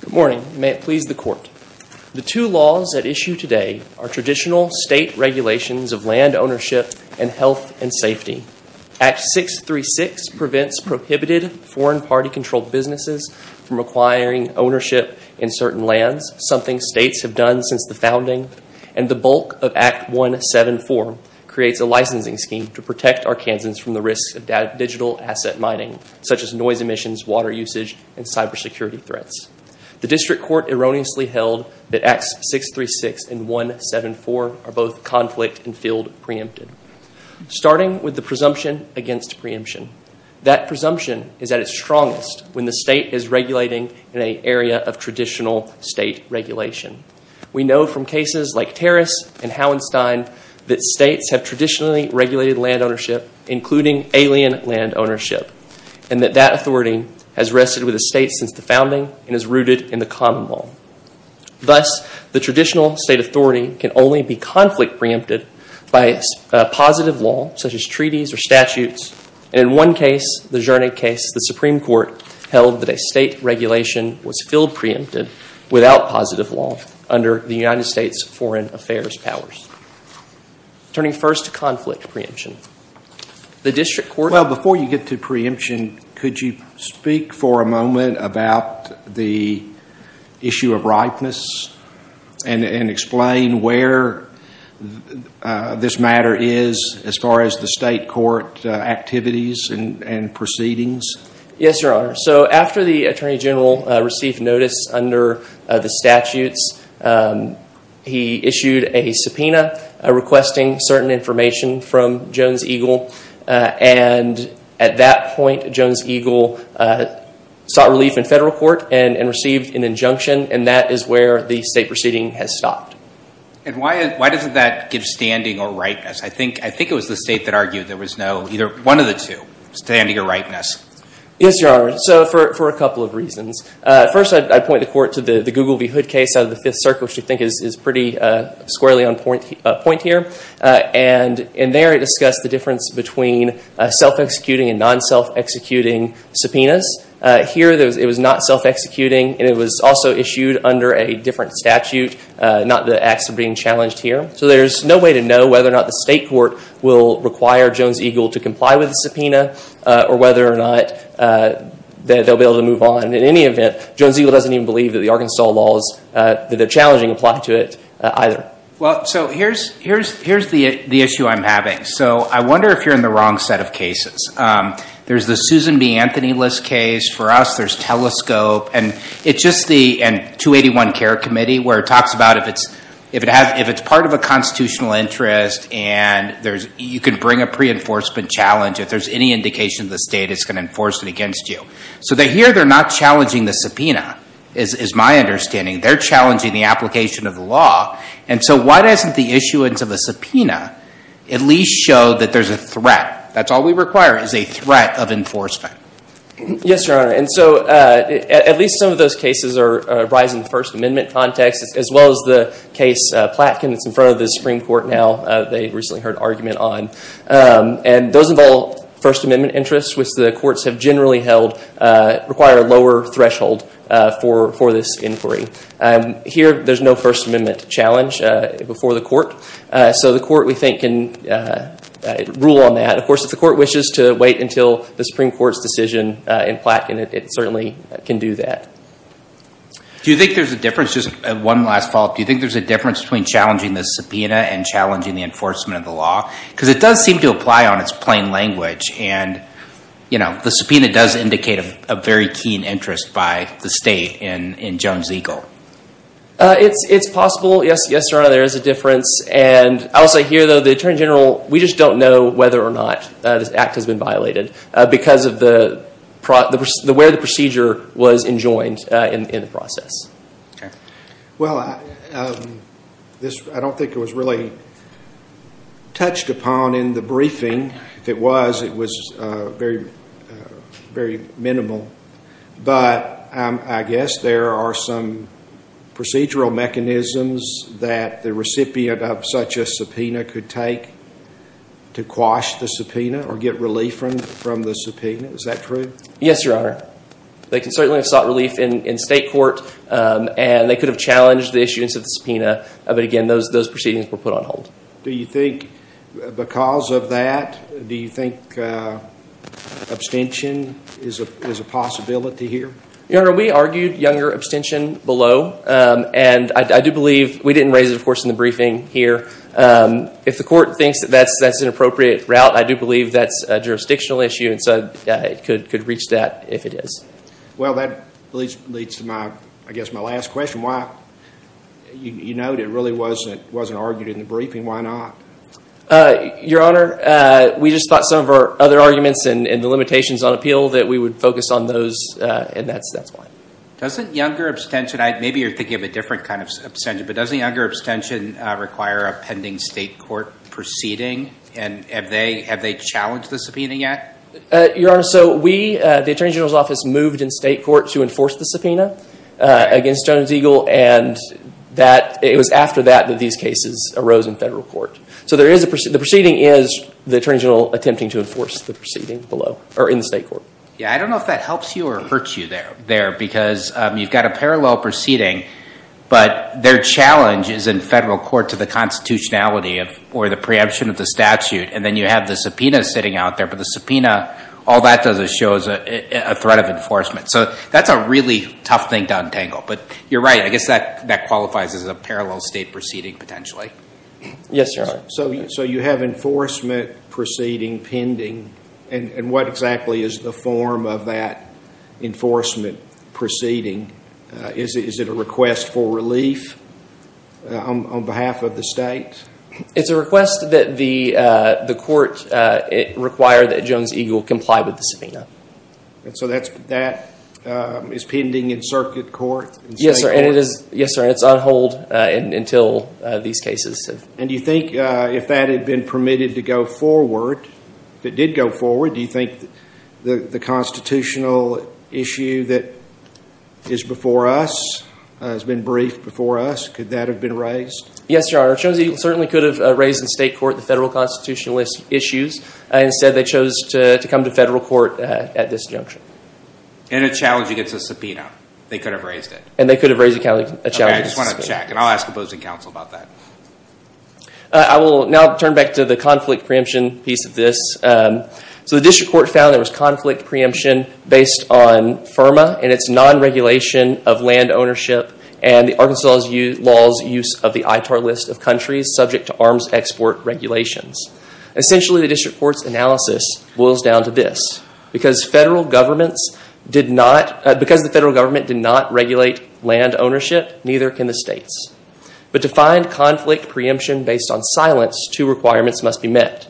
Good morning. May it please the court. The two laws at issue today are traditional state regulations of land ownership and health and safety. Act 636 prevents prohibited foreign party controlled businesses from acquiring ownership in certain lands, something states have done since the founding. And the bulk of Act 174 creates a licensing scheme to protect Arkansans from the risks of digital asset mining, such as noise emissions, water usage, and cybersecurity threats. The district court erroneously held that Acts 636 and 174 are both conflict and field preempted. Starting with the presumption against preemption. That presumption is at its strongest when the state is regulating in an area of traditional state regulation. We know from cases like Terrace and Hauenstein that states have traditionally regulated land ownership, including alien land ownership, and that that authority has rested with the state since the founding and is rooted in the common law. Thus, the traditional state authority can only be conflict preempted by positive law, such as treaties or statutes. In one case, the Zernig case, the Supreme Court held that a state regulation was field preempted without positive law under the United States foreign affairs powers. Turning first to conflict preemption. The district court... Well, before you get to preemption, could you speak for a moment about the issue of ripeness and explain where this matter is as far as the state court activities and proceedings? Yes, Your Honor. So after the Attorney General received notice under the statutes, he issued a subpoena requesting certain information from Jones-Eagle. And at that point, Jones-Eagle sought relief in federal court and received an injunction, and that is where the state proceeding has stopped. And why doesn't that give standing or ripeness? I think it was the state that argued there was no, either one of the two, standing or ripeness. Yes, Your Honor. So for a couple of reasons. First, I'd point the court to the Google v. Zernig case out of the Fifth Circuit, which I think is pretty squarely on point here. And there it discussed the difference between self-executing and non-self-executing subpoenas. Here it was not self-executing, and it was also issued under a different statute, not the acts of being challenged here. So there's no way to know whether or not the state court will require Jones-Eagle to comply with the subpoena or whether or not they'll be able to move on. In any event, Jones-Eagle doesn't even believe that the Arkansas laws, that they're challenging, apply to it either. So here's the issue I'm having. So I wonder if you're in the wrong set of cases. There's the Susan B. Anthony List case. For us, there's Telescope. And it's just the 281 Care Committee where it talks about if it's part of a constitutional interest and you can bring a pre-enforcement challenge, if there's any indication the state is going to enforce it against you. So here, they're not challenging the subpoena, is my understanding. They're challenging the application of the law. And so why doesn't the issuance of a subpoena at least show that there's a threat? That's all we require, is a threat of enforcement. Yes, Your Honor. And so at least some of those cases arise in the First Amendment context as well as the case Platkin that's in front of the Supreme Court now, they recently heard an argument on. And those involve First Amendment interests, which the courts have generally held require a lower threshold for this inquiry. Here, there's no First Amendment challenge before the court. So the court, we think, can rule on that. Of course, if the court wishes to wait until the Supreme Court's decision in Platkin, it certainly can do that. Do you think there's a difference, just one last follow-up, do you think there's a difference between challenging the subpoena and challenging the enforcement of the law? Because it does seem to apply on its plain language. And the subpoena does indicate a very keen interest by the state in Jones-Eagle. It's possible, yes, Your Honor, there is a difference. And I will say here, though, the Attorney General, we just don't know whether or not this act has been violated because of where the procedure was enjoined in the process. I don't think it was really touched upon in the briefing. If it was, it was very minimal. But I guess there are some procedural mechanisms that the recipient of such a subpoena could take to quash the subpoena or get relief from the subpoena. Is that true? Yes, Your Honor. They can certainly have sought relief in state court. And they could have challenged the issue instead of the subpoena. But again, those proceedings were put on hold. Do you think because of that, do you think abstention is a possibility here? Your Honor, we argued younger abstention below. And I do believe, we didn't raise it, of course, in the briefing here. If the court thinks that that's an appropriate route, I do believe that's a jurisdictional issue. And so it could reach that if it is. Well, that leads to my last question. You noted it really wasn't argued in the briefing. Why not? Your Honor, we just thought some of our other arguments and the limitations on appeal that we would focus on those. And that's why. Doesn't younger abstention, maybe you're thinking of a different kind of abstention, but doesn't younger abstention require a pending state court proceeding? And have they challenged the subpoena yet? Your Honor, so we, the Attorney General's Office, moved in state court to enforce the subpoena against Jones-Eagle. And it was after that that these cases arose in federal court. The proceeding is the Attorney General attempting to enforce the proceeding below, or in state court. Yeah, I don't know if that helps you or hurts you there. Because you've got a parallel proceeding, but their challenge is in federal court to the constitutionality or the preemption of the statute. And then you have the subpoena sitting out there. But the subpoena, all that does is shows a threat of enforcement. So that's a really tough thing to untangle. But you're right. I guess that qualifies as a parallel state proceeding potentially. Yes, Your Honor. So you have enforcement proceeding pending. And what exactly is the form of that enforcement proceeding? Is it a request for relief on behalf of the state? It's a request that the court require that Jones-Eagle comply with the subpoena. So that is pending in circuit court? Yes, sir. And it's on hold until these cases. And do you think if that had been permitted to go forward, if it did go forward, do you think the constitutional issue that is before us, has been briefed before us, could that have been raised? Yes, Your Honor. Jones-Eagle certainly could have raised in state court the federal constitutionalist issues. Instead, they chose to come to federal court at this juncture. And a challenge against a subpoena. They could have raised it. And they could have raised a challenge against a subpoena. Okay. I just want to check. And I'll ask opposing counsel about that. I will now turn back to the conflict preemption piece of this. So the district court found there was conflict preemption based on FIRMA and its non-regulation of land ownership and the Arkansas law's use of the ITAR list of countries subject to arms export regulations. Essentially, the district court's analysis boils down to this. Because the federal government did not regulate land ownership, neither can the states. But to find conflict preemption based on silence, two requirements must be met.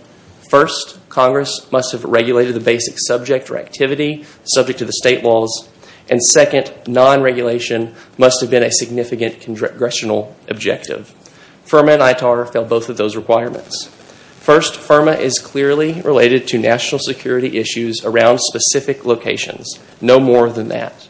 First, Congress must have regulated the basic subject or activity subject to the state laws. And second, non-regulation must have been a significant congressional objective. FIRMA and ITAR fell both of those requirements. First, FIRMA is clearly related to national security issues around specific locations. No more than that.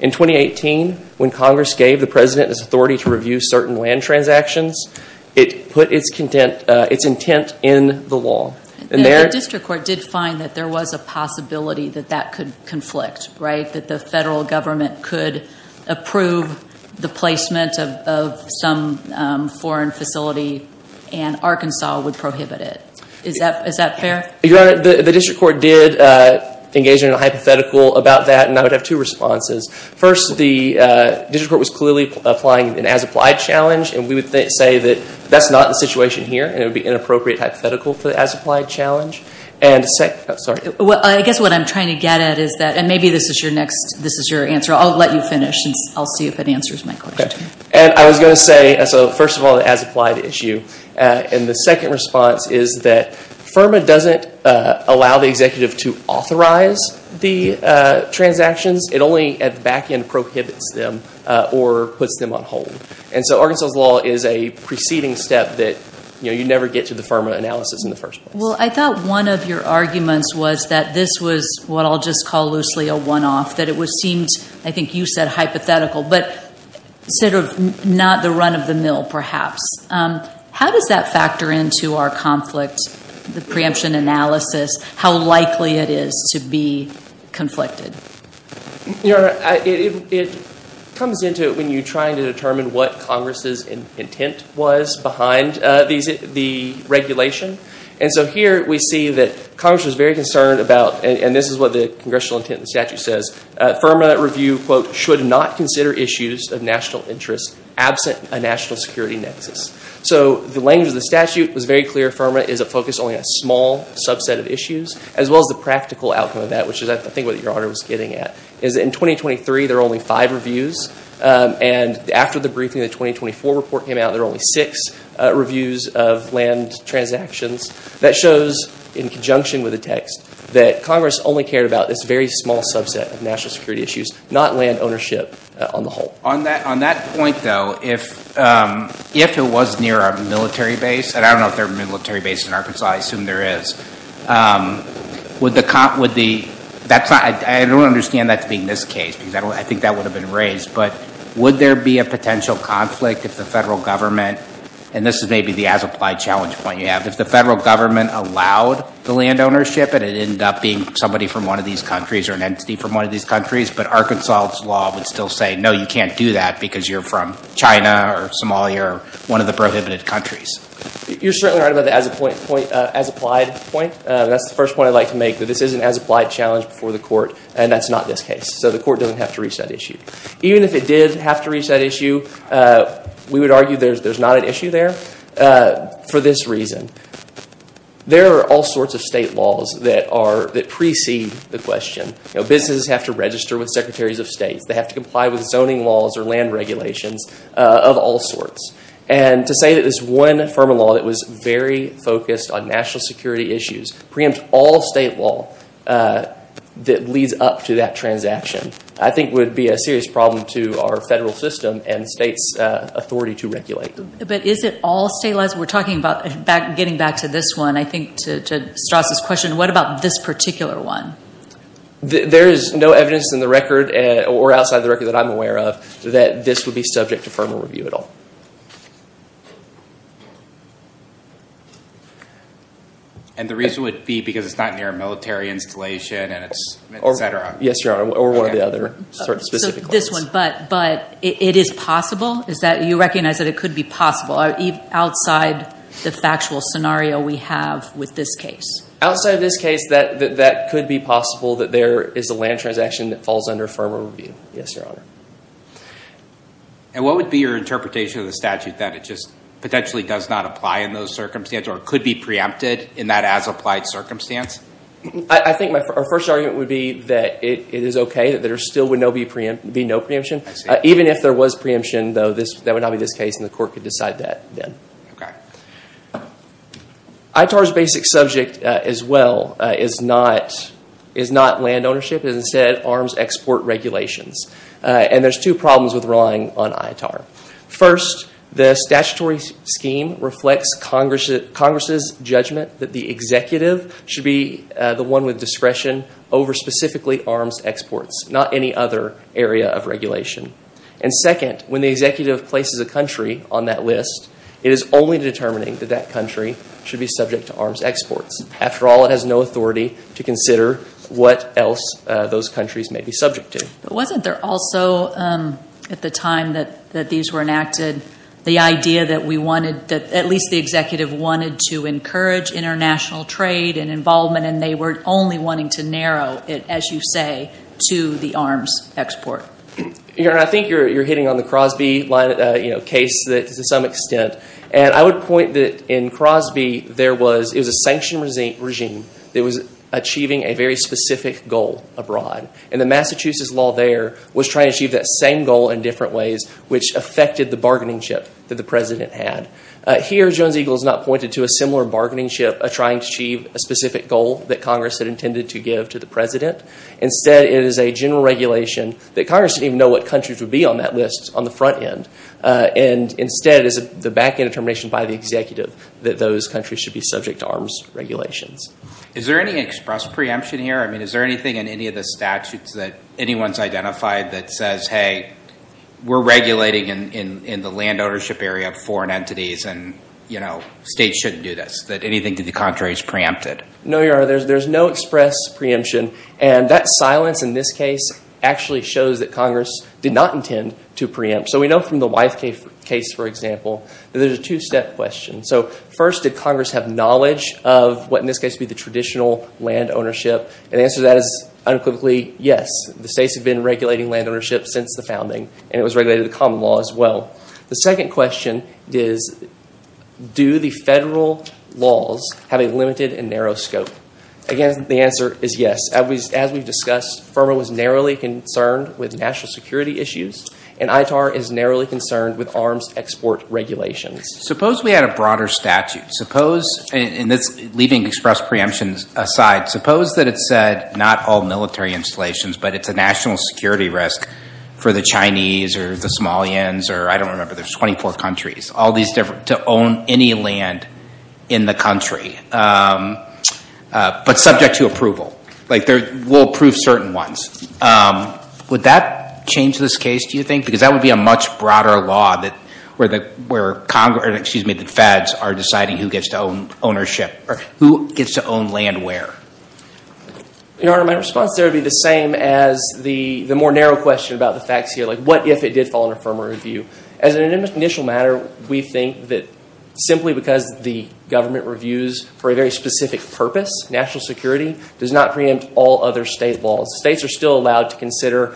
In 2018, when Congress gave the President his authority to review certain land transactions, it put its intent in the law. The district court did find that there was a possibility that that could conflict, right? That the federal government could approve the placement of some foreign facility and Arkansas would prohibit it. Is that fair? Your Honor, the district court did engage in a hypothetical about that, and I would have two responses. First, the district court was clearly applying an as-applied challenge, and we would say that that's not the situation here, and it would be an inappropriate hypothetical for the as-applied challenge. And second, I'm sorry. I guess what I'm trying to get at is that, and maybe this is your answer. I'll let you finish, since I'll see if it answers my question. And I was going to say, so first of all, the as-applied issue. And the second response is that FIRMA doesn't allow the executive to authorize the transactions. It only at the back end prohibits them or puts them on hold. And so Arkansas' law is a preceding step that, you know, you never get to the FIRMA analysis in the first place. Well, I thought one of your arguments was that this was what I'll just call loosely a one-off, that it seemed, I think you said, hypothetical, but sort of not the run of the mill, perhaps. How does that factor into our conflict, the preemption analysis, how likely it is to be conflicted? Your Honor, it comes into it when you're trying to determine what Congress' intent was behind the regulation. And so here we see that Congress was very concerned about, and this is what the congressional intent in the statute says, FIRMA review, quote, should not consider issues of national interest absent a national security nexus. So the language of the statute was very clear. FIRMA is a focus on a small subset of issues, as well as the practical outcome of that, which is, I think, what Your Honor was getting at, is in 2023, there are only five reviews. And after the briefing, the 2024 report came out, there are only six reviews of land transactions. That shows, in conjunction with the text, that Congress only cared about this very small subset of national security issues, not land ownership on the whole. On that point, though, if it was near a military base, and I don't know if there are military bases in Arkansas, I assume there is, would the – that's not – I don't understand that being this case, because I think that would have been raised. But would there be a potential conflict if the federal government – and this is maybe the as-applied challenge point you have – if the federal government allowed the land ownership and it ended up being somebody from one of these countries or an entity from one of these countries, but Arkansas' law would still say, no, you can't do that because you're from China or Somalia or one of the prohibited countries? You're certainly right about the as-applied point. That's the first point I'd like to make, that this is an as-applied challenge before the court, and that's not this case. So the court doesn't have to reach that issue. Even if it did have to reach that issue, we would argue there's not an issue there for this reason. There are all sorts of state laws that are – that precede the question. Businesses have to register with secretaries of states. They have to comply with zoning laws or land regulations of all sorts. And to say that this one form of law that was very focused on national security issues preempts all state law that leads up to that transaction I think would be a serious problem to our federal system and states' authority to regulate them. But is it all state laws? We're talking about – getting back to this one, I think, to Strauss' question. What about this particular one? There is no evidence in the record or outside the record that I'm aware of that this would be subject to firmer review at all. And the reason would be because it's not near a military installation and it's – etc. Yes, Your Honor. Or one of the other sort of specific claims. So this one, but it is possible? Is that – you recognize that it could be possible outside the factual scenario we have with this case? Outside this case, that could be possible that there is a land transaction that falls under firmer review. Yes, Your Honor. And what would be your interpretation of the statute that it just potentially does not apply in those circumstances or could be preempted in that as-applied circumstance? I think our first argument would be that it is okay, that there still would be no preemption. Even if there was preemption, though, that would not be this case and the court could decide that then. Okay. ITAR's basic subject as well is not land ownership, is instead arms export regulations. And there's two problems with relying on ITAR. First, the statutory scheme reflects Congress's judgment that the executive should be the one with discretion over specifically arms exports, not any other area of regulation. And second, when the executive places a country on that list, it is only determining that that country should be subject to arms exports. After all, it has no authority to consider what else those countries may be subject to. But wasn't there also, at the time that these were enacted, the idea that we wanted – that at least the executive wanted to encourage international trade and involvement and they were only wanting to narrow it, as you say, to the arms export? I think you're hitting on the Crosby case to some extent. And I would point that in Crosby, there was – it was a sanctioned regime that was achieving a very specific goal abroad. And the Massachusetts law there was trying to achieve that same goal in different ways, which affected the bargaining chip that the president had. Here Jones-Eagle has not pointed to a similar bargaining chip of trying to achieve a specific goal that Congress had intended to give to the president. Instead, it is a general regulation that Congress didn't even know what countries would be on that list on the front end. And instead, it is the back-end determination by the executive that those countries should be subject to arms regulations. Is there any express preemption here? I mean, is there anything in any of the statutes that anyone's identified that says, hey, we're regulating in the land ownership area of foreign entities and, you know, states shouldn't do this, that anything to the contrary is preempted? No, Your Honor, there's no express preemption. And that silence in this case actually shows that Congress did not intend to preempt. So we know from the Wythe case, for example, that there's a two-step question. So first, did Congress have knowledge of what in this case would be the traditional land ownership? And the answer to that is unequivocally, yes, the states have been regulating land ownership since the founding, and it was regulated in the common law as well. The second question is, do the federal laws have a limited and narrow scope? Again, the answer is yes. As we've discussed, FOMA was narrowly concerned with national security issues, and ITAR is narrowly concerned with arms export regulations. Suppose we had a broader statute. Suppose, and leaving express preemptions aside, suppose that it said not all military installations, but it's a national security risk for the Chinese or the Somalians, or I don't remember, there's 24 countries, all these different, to own any land in the country, but subject to approval. Like, we'll approve certain ones. Would that change this case, do you think? Because that would be a much broader law that where Congress, excuse me, the feds are deciding who gets to own ownership, or who gets to own land where. Your Honor, my response there would be the same as the more narrow question about the facts here. Like, what if it did fall under FOMA review? As an initial matter, we think that simply because the government reviews for a very specific purpose, national security, does not preempt all other state laws. States are still allowed to consider,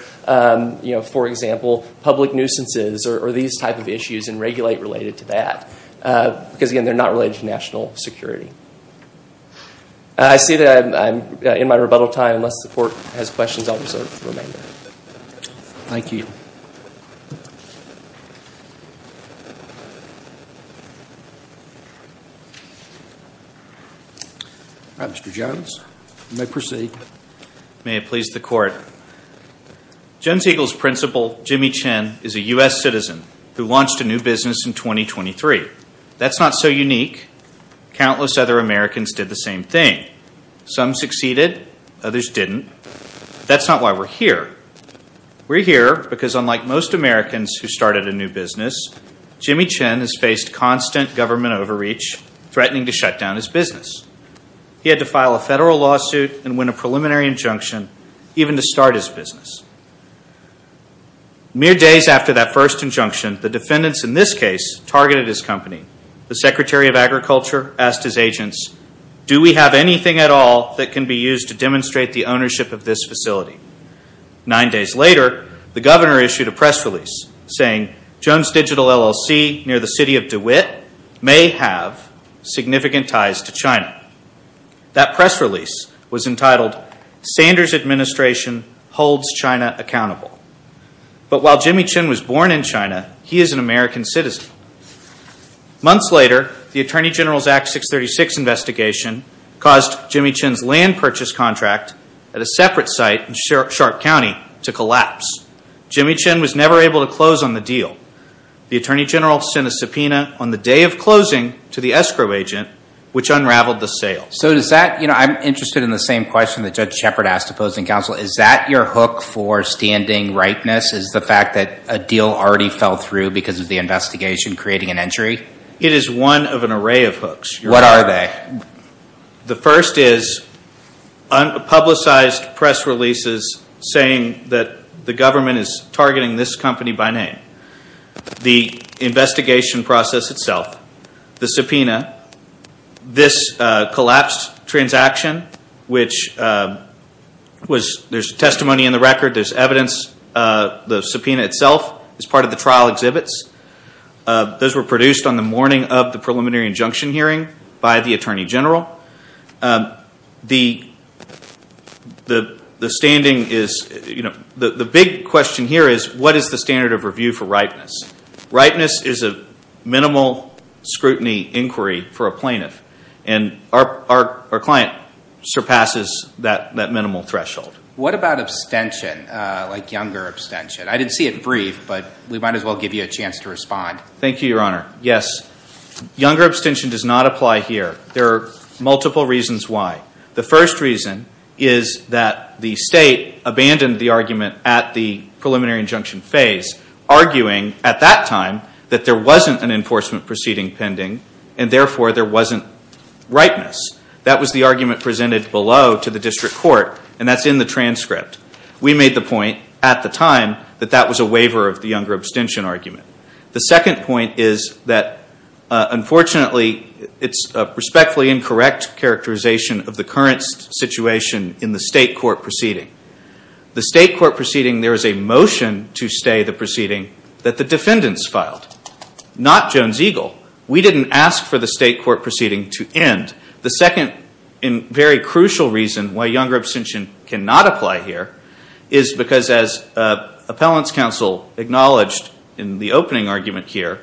you know, for example, public nuisances, or these type of issues, and regulate related to that, because again, they're not related to national security. I see that I'm in my rebuttal time, unless the Court has questions, I'll reserve the remainder. Thank you. All right, Mr. Jones, you may proceed. May it please the Court. Jones-Eagles principal, Jimmy Chen, is a U.S. citizen who launched a new business in 2023. That's not so unique. Countless other Americans did the same thing. Some succeeded, others didn't. That's not why we're here. We're here because unlike most Americans who started a new business, Jimmy Chen has faced constant government overreach, threatening to shut down his business. He had to file a federal lawsuit and win a preliminary injunction, even to start his business. Mere days after that first injunction, the defendants in this case targeted his company, the Secretary of Agriculture asked his agents, do we have anything at all that can be used to demonstrate the ownership of this facility? Nine days later, the governor issued a press release saying, Jones Digital LLC, near the city of DeWitt, may have significant ties to China. That press release was entitled, Sanders Administration Holds China Accountable. But while Jimmy Chen was born in China, he is an American citizen. Months later, the Attorney General's Act 636 investigation caused Jimmy Chen's land purchase contract at a separate site in Sharp County to collapse. Jimmy Chen was never able to close on the deal. The Attorney General sent a subpoena on the day of closing to the escrow agent, which unraveled the sale. I'm interested in the same question that Judge Shepard asked opposing counsel, is that your hook for standing rightness is the fact that a deal already fell through because of the investigation creating an injury? It is one of an array of hooks. What are they? The first is publicized press releases saying that the government is targeting this company by name. The investigation process itself, the subpoena, this collapsed transaction, which there's testimony in the record, there's evidence, the subpoena itself is part of the trial exhibits. Those were produced on the morning of the preliminary injunction hearing by the Attorney General. The big question here is what is the standard of review for rightness? Rightness is a minimal scrutiny inquiry for a plaintiff. And our client surpasses that minimal threshold. What about abstention, like younger abstention? I didn't see it brief, but we might as well give you a chance to respond. Thank you, Your Honor. Yes. Younger abstention does not apply here. There are multiple reasons why. The first reason is that the state abandoned the argument at the preliminary injunction phase, arguing at that time that there wasn't an enforcement proceeding pending, and therefore, there wasn't rightness. That was the argument presented below to the district court, and that's in the transcript. We made the point at the time that that was a waiver of the younger abstention argument. The second point is that, unfortunately, it's a respectfully incorrect characterization of the current situation in the state court proceeding. The state court proceeding, there is a motion to stay the proceeding that the defendants filed, not Jones-Eagle. We didn't ask for the state court proceeding to end. The second and very crucial reason why younger abstention cannot apply here is because, as appellants counsel acknowledged in the opening argument here,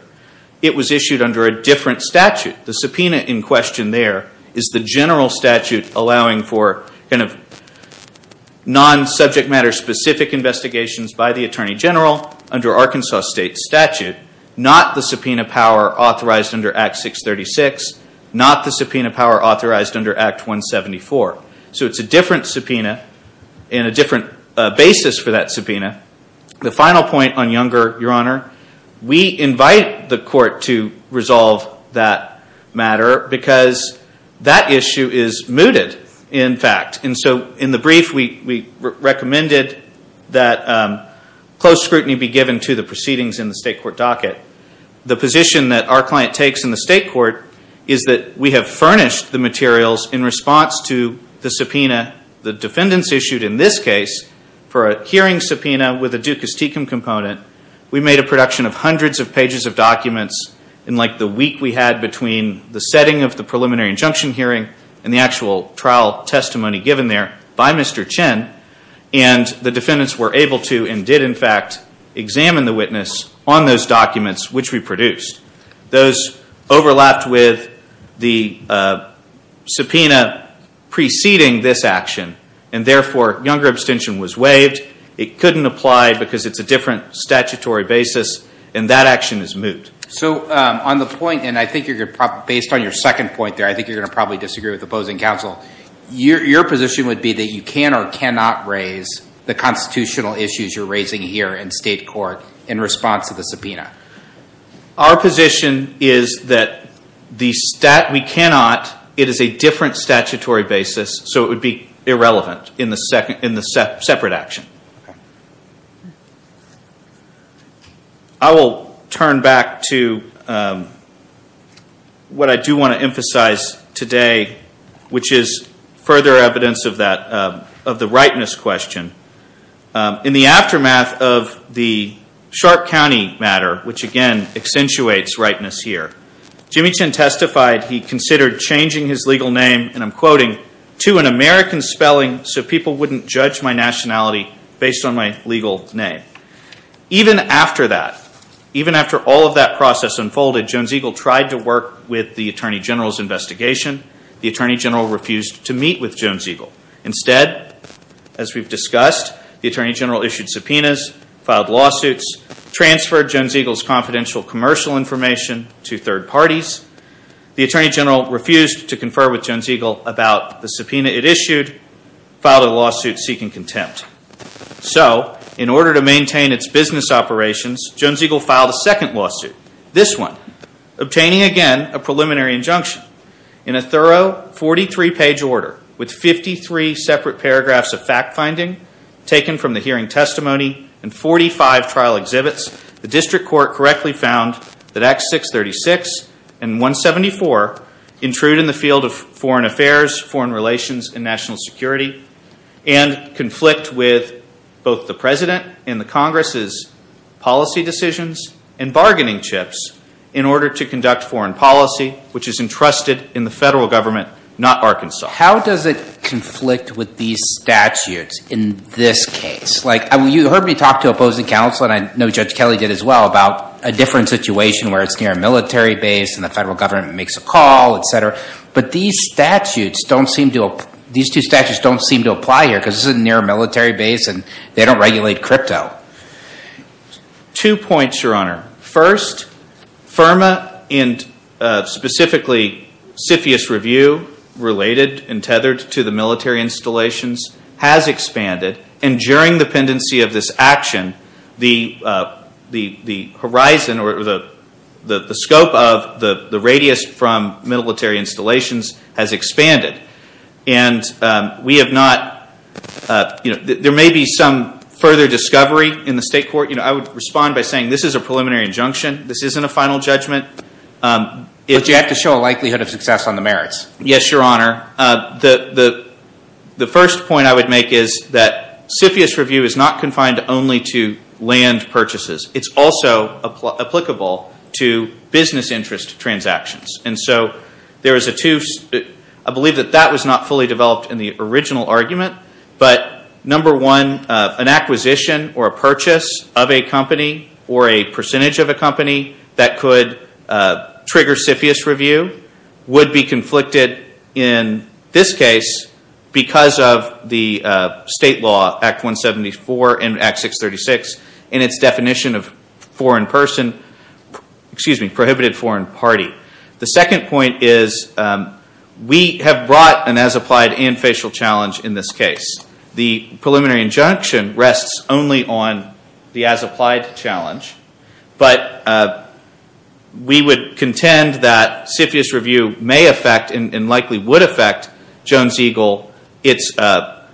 it was issued under a different statute. The subpoena in question there is the general statute allowing for kind of non-subject matter-specific investigations by the Attorney General under Arkansas State statute, not the subpoena power authorized under Act 636, not the subpoena power authorized under Act 174. So it's a different subpoena and a different basis for that subpoena. The final point on younger, Your Honor, we invite the court to resolve that matter because that issue is mooted, in fact. And so in the brief, we recommended that close scrutiny be given to the proceedings in the state court docket. The position that our client takes in the state court is that we have furnished the materials in response to the subpoena the defendants issued in this case for a hearing subpoena with a Dukas-Tecum component. We made a production of hundreds of pages of documents in like the week we had between the setting of the preliminary injunction hearing and the actual trial testimony given there by Mr. Chin. And the defendants were able to and did, in fact, examine the witness on those documents which we produced. Those overlapped with the subpoena preceding this action. And therefore, younger abstention was waived. It couldn't apply because it's a different statutory basis. And that action is moot. So on the point, and I think you're going to probably, based on your second point there, I think you're going to probably disagree with opposing counsel. Your position would be that you can or cannot raise the constitutional issues you're raising here in state court in response to the subpoena. Our position is that we cannot. It is a different statutory basis. So it would be irrelevant in the separate action. I will turn back to what I do want to emphasize today, which is further evidence of the rightness question. In the aftermath of the Sharp County matter, which again accentuates rightness here, Jimmy Chin testified he considered changing his legal name, and I'm quoting, to an American spelling so people wouldn't judge my nationality based on my legal name. Even after that, even after all of that process unfolded, Jones-Eagle tried to work with the Attorney General's investigation. The Attorney General refused to meet with Jones-Eagle. Instead, as we've discussed, the Attorney General issued subpoenas, filed lawsuits, transferred Jones-Eagle's confidential commercial information to third parties. The Attorney General refused to confer with Jones-Eagle about the subpoena it issued, filed a lawsuit seeking contempt. So in order to maintain its business operations, Jones-Eagle filed a second lawsuit, this one, obtaining again a preliminary injunction. In a thorough 43-page order with 53 separate paragraphs of fact-finding taken from the hearing testimony and 45 trial exhibits, the district court correctly found that Acts 636 and 174 intrude in the field of foreign affairs, foreign relations, and national security and conflict with both the President and the Congress's policy decisions and bargaining chips in order to conduct foreign policy, which is entrusted in the federal government, not Arkansas. How does it conflict with these statutes in this case? Like you heard me talk to opposing counsel, and I know Judge Kelly did as well, about a different situation where it's near a military base and the federal government makes a call, et cetera. But these statutes don't seem to apply here because this is near a military base and they don't regulate crypto. Two points, Your Honor. First, FIRMA and specifically CFIUS Review, related and tethered to the military installations, has expanded, and during the pendency of this action, the horizon or the scope of the radius from military installations has expanded. There may be some further discovery in the state court. I would respond by saying this is a preliminary injunction. This isn't a final judgment. But you have to show a likelihood of success on the merits. Yes, Your Honor. The first point I would make is that CFIUS Review is not confined only to land purchases. It's also applicable to business interest transactions. I believe that that was not fully developed in the original argument, but number one, an acquisition or a purchase of a company or a percentage of a company that could trigger CFIUS Review would be conflicted in this case because of the state law, Act 174 and Act 636, and its definition of prohibited foreign party. The second point is we have brought an as-applied and facial challenge in this case. The preliminary injunction rests only on the as-applied challenge. But we would contend that CFIUS Review may affect and likely would affect Jones Eagle, at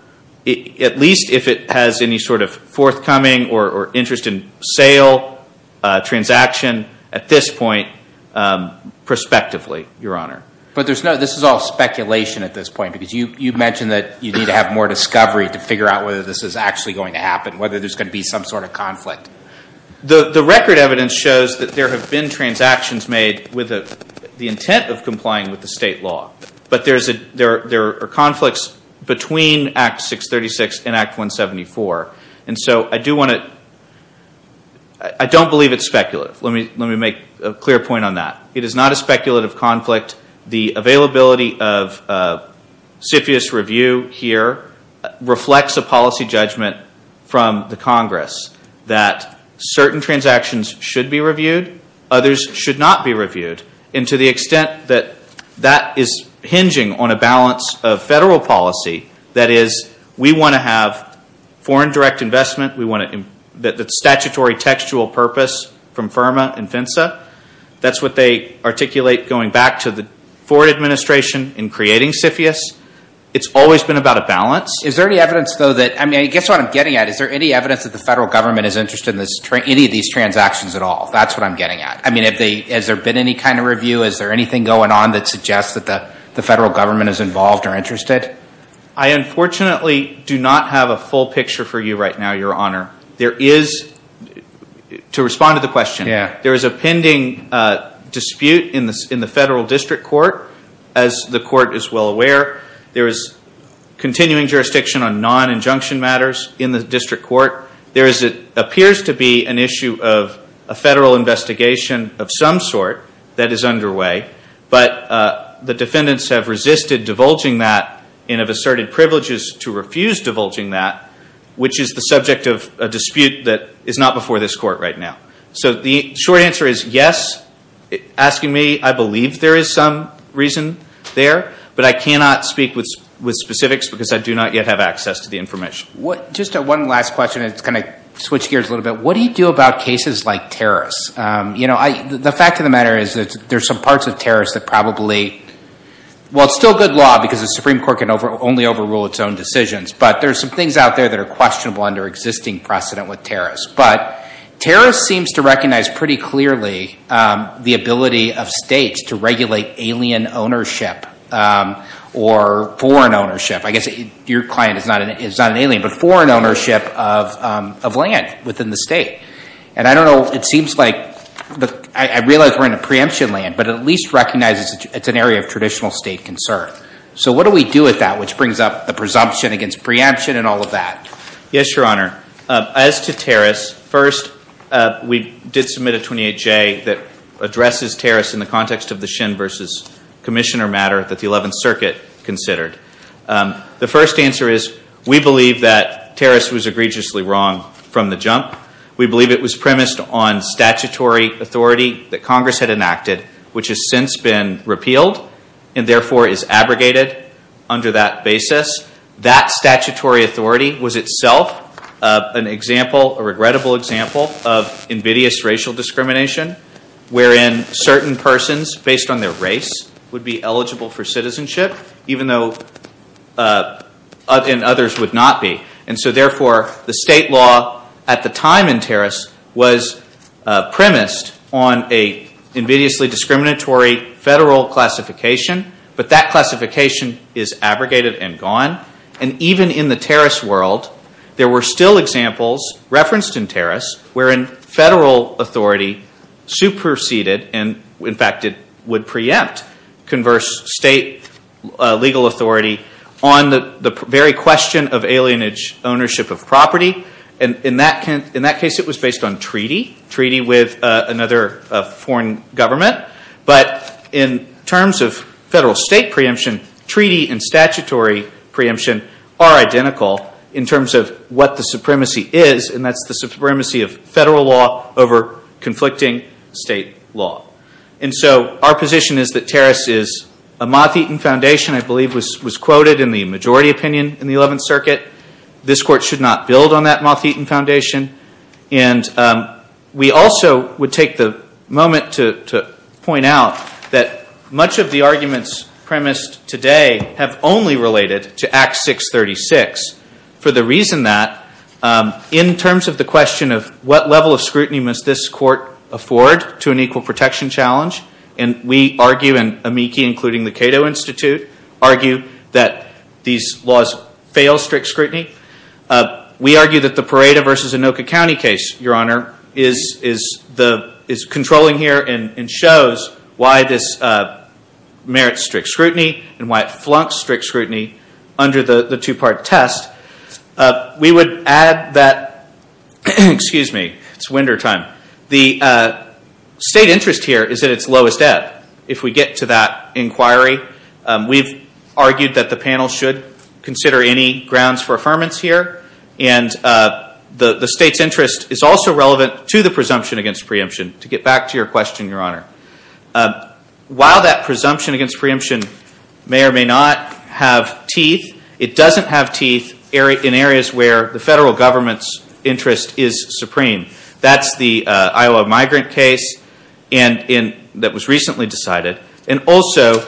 least if it has any sort of forthcoming or interest in sale, transaction, at this point, prospectively, Your Honor. But this is all speculation at this point because you mentioned that you need to have more discovery to figure out whether this is actually going to happen, whether there's going to be some sort of conflict. The record evidence shows that there have been transactions made with the intent of complying with the state law, but there are conflicts between Act 636 and Act 174. And so I don't believe it's speculative. Let me make a clear point on that. It is not a speculative conflict. The availability of CFIUS Review here reflects a policy judgment from the Congress that certain transactions should be reviewed, others should not be reviewed. And to the extent that that is hinging on a balance of federal policy, that is, we want to have foreign direct investment, we want a statutory textual purpose from FIRMA and FINSA. That's what they articulate going back to the Ford administration in creating CFIUS. It's always been about a balance. Is there any evidence, though, that, I mean, I guess what I'm getting at, is there any evidence that the federal government is interested in any of these transactions at all? That's what I'm getting at. I mean, has there been any kind of review? Is there anything going on that suggests that the federal government is involved or interested? I unfortunately do not have a full picture for you right now, Your Honor. There is, to respond to the question, there is a pending dispute in the federal district court, as the court is well aware. There is continuing jurisdiction on non-injunction matters in the district court. There appears to be an issue of a federal investigation of some sort that is underway, but the defendants have resisted divulging that and have asserted privileges to refuse divulging that, which is the subject of a dispute that is not before this court right now. So the short answer is yes. Asking me, I believe there is some reason there, but I cannot speak with specifics because I do not yet have access to the information. Just one last question, and it's going to switch gears a little bit. What do you do about cases like terrorists? The fact of the matter is that there are some parts of terrorists that probably, well, it's still good law because the Supreme Court can only overrule its own decisions, but there are some things out there that are questionable under existing precedent with terrorists. But terrorists seem to recognize pretty clearly the ability of states to regulate alien ownership or foreign ownership. I guess your client is not an alien, but foreign ownership of land within the state. And I don't know, it seems like, I realize we're in a preemption land, but at least recognize it's an area of traditional state concern. So what do we do with that, which brings up the presumption against preemption and all of that? Yes, Your Honor. As to terrorists, first, we did submit a 28-J that addresses terrorists in the context of the Shin v. Commissioner matter that the 11th Circuit considered. The first answer is we believe that terrorists was egregiously wrong from the jump. We believe it was premised on statutory authority that Congress had enacted, which has since been repealed and therefore is abrogated under that basis. That statutory authority was itself an example, a regrettable example, of invidious racial discrimination, wherein certain persons, based on their race, would be eligible for citizenship, even though others would not be. And so, therefore, the state law at the time in terrorists was premised on an invidiously discriminatory federal classification, but that classification is abrogated and gone. And even in the terrorist world, there were still examples referenced in terrorists, wherein federal authority superseded and, in fact, it would preempt converse state legal authority on the very question of alienage ownership of property. In that case, it was based on treaty, treaty with another foreign government. But in terms of federal state preemption, treaty and statutory preemption are identical in terms of what the supremacy is, and that's the supremacy of federal law over conflicting state law. And so our position is that terrorists is a moth-eaten foundation, I believe, was quoted in the majority opinion in the 11th Circuit. This Court should not build on that moth-eaten foundation. And we also would take the moment to point out that much of the arguments premised today have only related to Act 636 for the reason that, in terms of the question of what level of scrutiny must this Court afford to an equal protection challenge, and we argue, and AMICI, including the Cato Institute, argue that these laws fail strict scrutiny. We argue that the Parada v. Anoka County case, Your Honor, is controlling here and shows why this merits strict scrutiny and why it flunks strict scrutiny under the two-part test. We would add that, excuse me, it's wintertime, the state interest here is at its lowest ebb. If we get to that inquiry, we've argued that the panel should consider any grounds for affirmance here, and the state's interest is also relevant to the presumption against preemption. To get back to your question, Your Honor, while that presumption against preemption may or may not have teeth, it doesn't have teeth in areas where the federal government's interest is supreme. That's the Iowa migrant case that was recently decided. And also,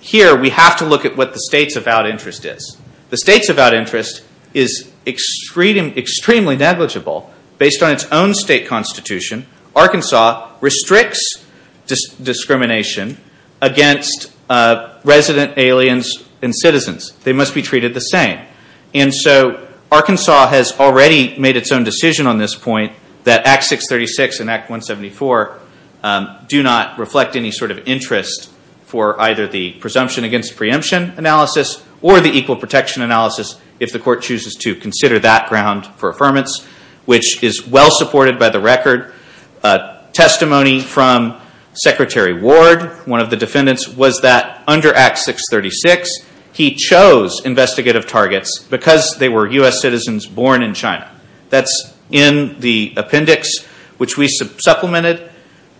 here we have to look at what the state's avowed interest is. The state's avowed interest is extremely negligible. Based on its own state constitution, Arkansas restricts discrimination against resident aliens and citizens. They must be treated the same. Arkansas has already made its own decision on this point that Act 636 and Act 174 do not reflect any sort of interest for either the presumption against preemption analysis or the equal protection analysis if the court chooses to consider that ground for affirmance, which is well supported by the record. Testimony from Secretary Ward, one of the defendants, was that under Act 636, he chose investigative targets because they were U.S. citizens born in China. That's in the appendix which we supplemented,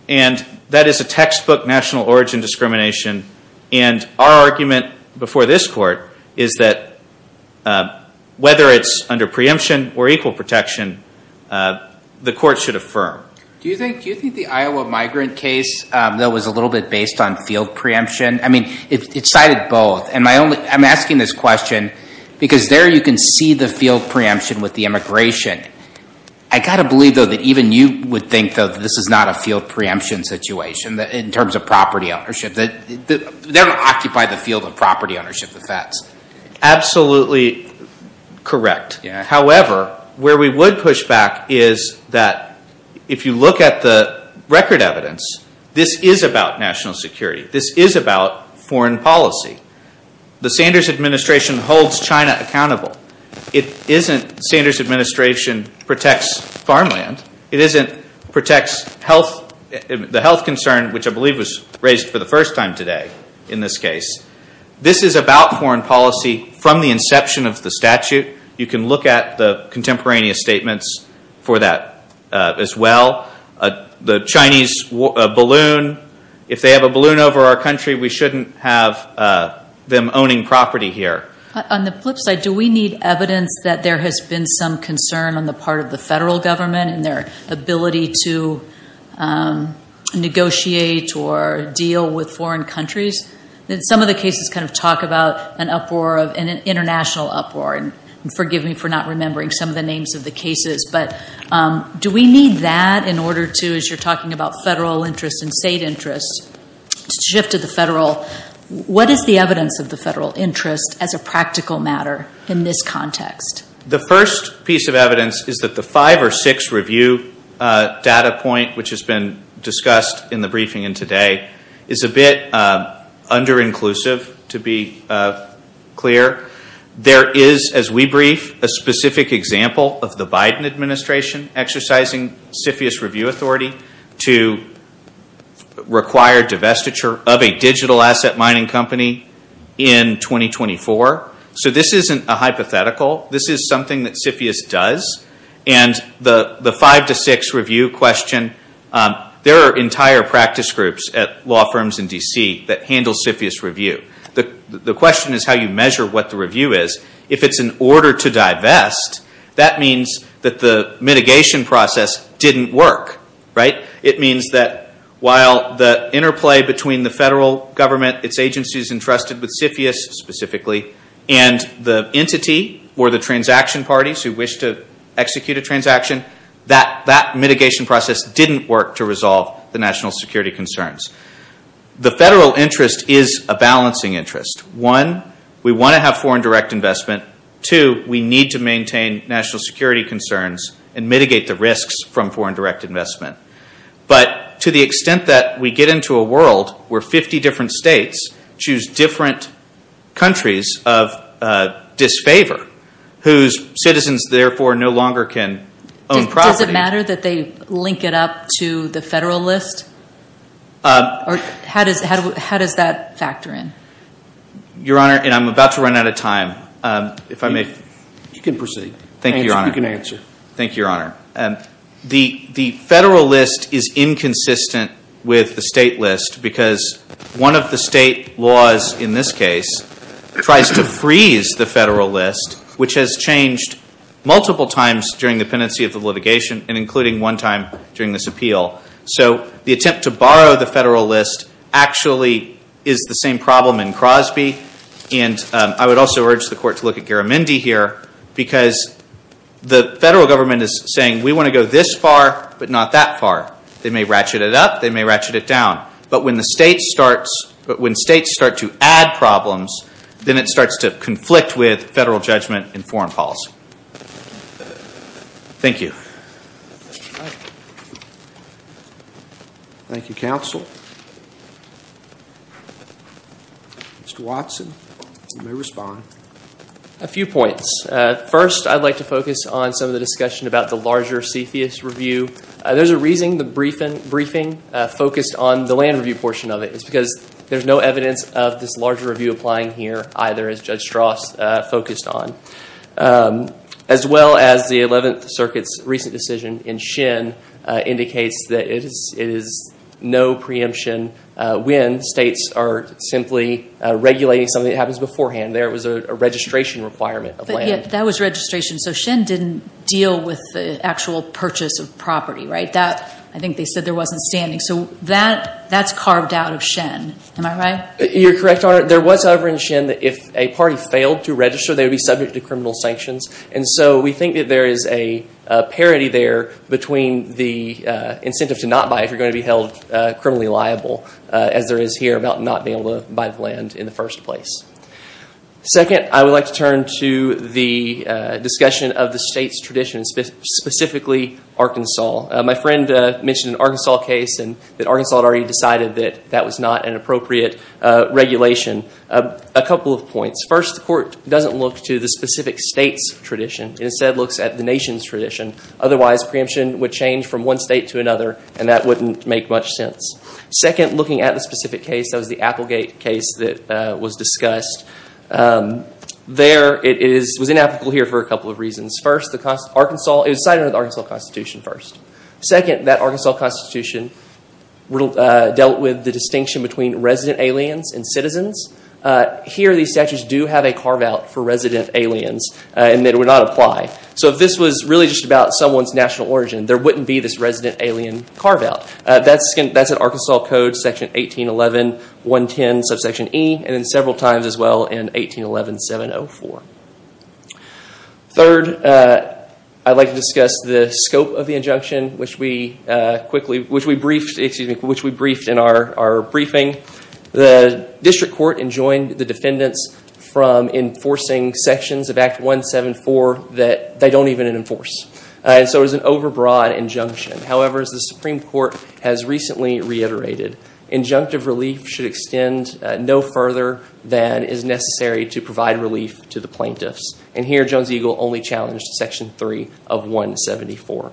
and that is a textbook national origin discrimination. And our argument before this court is that whether it's under preemption or equal protection, the court should affirm. Do you think the Iowa migrant case, though, was a little bit based on field preemption? I mean, it cited both. I'm asking this question because there you can see the field preemption with the immigration. I've got to believe, though, that even you would think, though, that this is not a field preemption situation in terms of property ownership. They don't occupy the field of property ownership, the feds. Absolutely correct. However, where we would push back is that if you look at the record evidence, this is about national security. This is about foreign policy. The Sanders Administration holds China accountable. It isn't Sanders Administration protects farmland. It isn't protects the health concern, which I believe was raised for the first time today in this case. This is about foreign policy from the inception of the statute. You can look at the contemporaneous statements for that as well. The Chinese balloon, if they have a balloon over our country, we shouldn't have them owning property here. On the flip side, do we need evidence that there has been some concern on the part of the federal government in their ability to negotiate or deal with foreign countries? Some of the cases kind of talk about an uproar, an international uproar, and forgive me for not remembering some of the names of the cases. But do we need that in order to, as you're talking about federal interest and state interest, shift to the federal? What is the evidence of the federal interest as a practical matter in this context? The first piece of evidence is that the five or six review data point, which has been discussed in the briefing and today, is a bit under-inclusive, to be clear. There is, as we brief, a specific example of the Biden administration exercising CFIUS review authority to require divestiture of a digital asset mining company in 2024. So this isn't a hypothetical. This is something that CFIUS does. And the five to six review question, there are entire practice groups at law firms in D.C. that handle CFIUS review. The question is how you measure what the review is. If it's an order to divest, that means that the mitigation process didn't work. It means that while the interplay between the federal government, its agencies entrusted with CFIUS specifically, and the entity or the transaction parties who wish to execute a transaction, that mitigation process didn't work to resolve the national security concerns. The federal interest is a balancing interest. One, we want to have foreign direct investment. Two, we need to maintain national security concerns and mitigate the risks from foreign direct investment. But to the extent that we get into a world where 50 different states choose different countries of disfavor, whose citizens therefore no longer can own property. Does it matter that they link it up to the federal list? Or how does that factor in? Your Honor, and I'm about to run out of time. If I may. You can proceed. Thank you, Your Honor. You can answer. Thank you, Your Honor. The federal list is inconsistent with the state list because one of the state laws, in this case, tries to freeze the federal list, which has changed multiple times during the pendency of the litigation, and including one time during this appeal. So the attempt to borrow the federal list actually is the same problem in Crosby. And I would also urge the Court to look at Garamendi here because the federal government is saying, we want to go this far but not that far. They may ratchet it up. They may ratchet it down. But when states start to add problems, then it starts to conflict with federal judgment in foreign policy. Thank you. Thank you, counsel. Mr. Watson, you may respond. A few points. First, I'd like to focus on some of the discussion about the larger CFIUS review. There's a reason the briefing focused on the land review portion of it. It's because there's no evidence of this larger review applying here, either, as Judge Strauss focused on. As well as the Eleventh Circuit's recent decision in Shin indicates that it is no preemption when states are simply regulating something that happens beforehand. There was a registration requirement of land. That was registration. So Shin didn't deal with the actual purchase of property, right? I think they said there wasn't standing. So that's carved out of Shin. Am I right? You're correct, Your Honor. There was, however, in Shin that if a party failed to register, they would be subject to criminal sanctions. And so we think that there is a parity there between the incentive to not buy if you're going to be held criminally liable, as there is here about not being able to buy the land in the first place. Second, I would like to turn to the discussion of the state's tradition, specifically Arkansas. My friend mentioned an Arkansas case, and that Arkansas had already decided that that was not an appropriate regulation. A couple of points. First, the Court doesn't look to the specific state's tradition. It instead looks at the nation's tradition. Otherwise, preemption would change from one state to another, and that wouldn't make much sense. Second, looking at the specific case, that was the Applegate case that was discussed. There, it was inapplicable here for a couple of reasons. First, it was decided under the Arkansas Constitution first. Second, that Arkansas Constitution dealt with the distinction between resident aliens and citizens. Here, these statutes do have a carve-out for resident aliens, and it would not apply. So if this was really just about someone's national origin, there wouldn't be this resident alien carve-out. That's in Arkansas Code, section 1811.110, subsection E, and several times as well in 1811.704. Third, I'd like to discuss the scope of the injunction, which we briefed in our briefing. The District Court enjoined the defendants from enforcing sections of Act 174 that they don't even enforce. So it was an overbroad injunction. However, as the Supreme Court has recently reiterated, injunctive relief should extend no further than is necessary to provide relief to the plaintiffs. And here, Jones-Eagle only challenged section 3 of 174.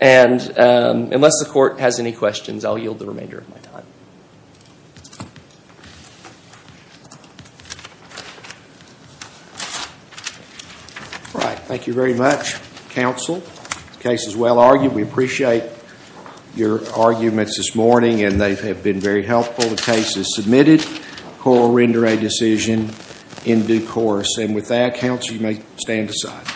And unless the Court has any questions, I'll yield the remainder of my time. Thank you. All right. Thank you very much, counsel. The case is well argued. We appreciate your arguments this morning, and they have been very helpful. The case is submitted. Court will render a decision in due course. And with that, counsel, you may stand aside.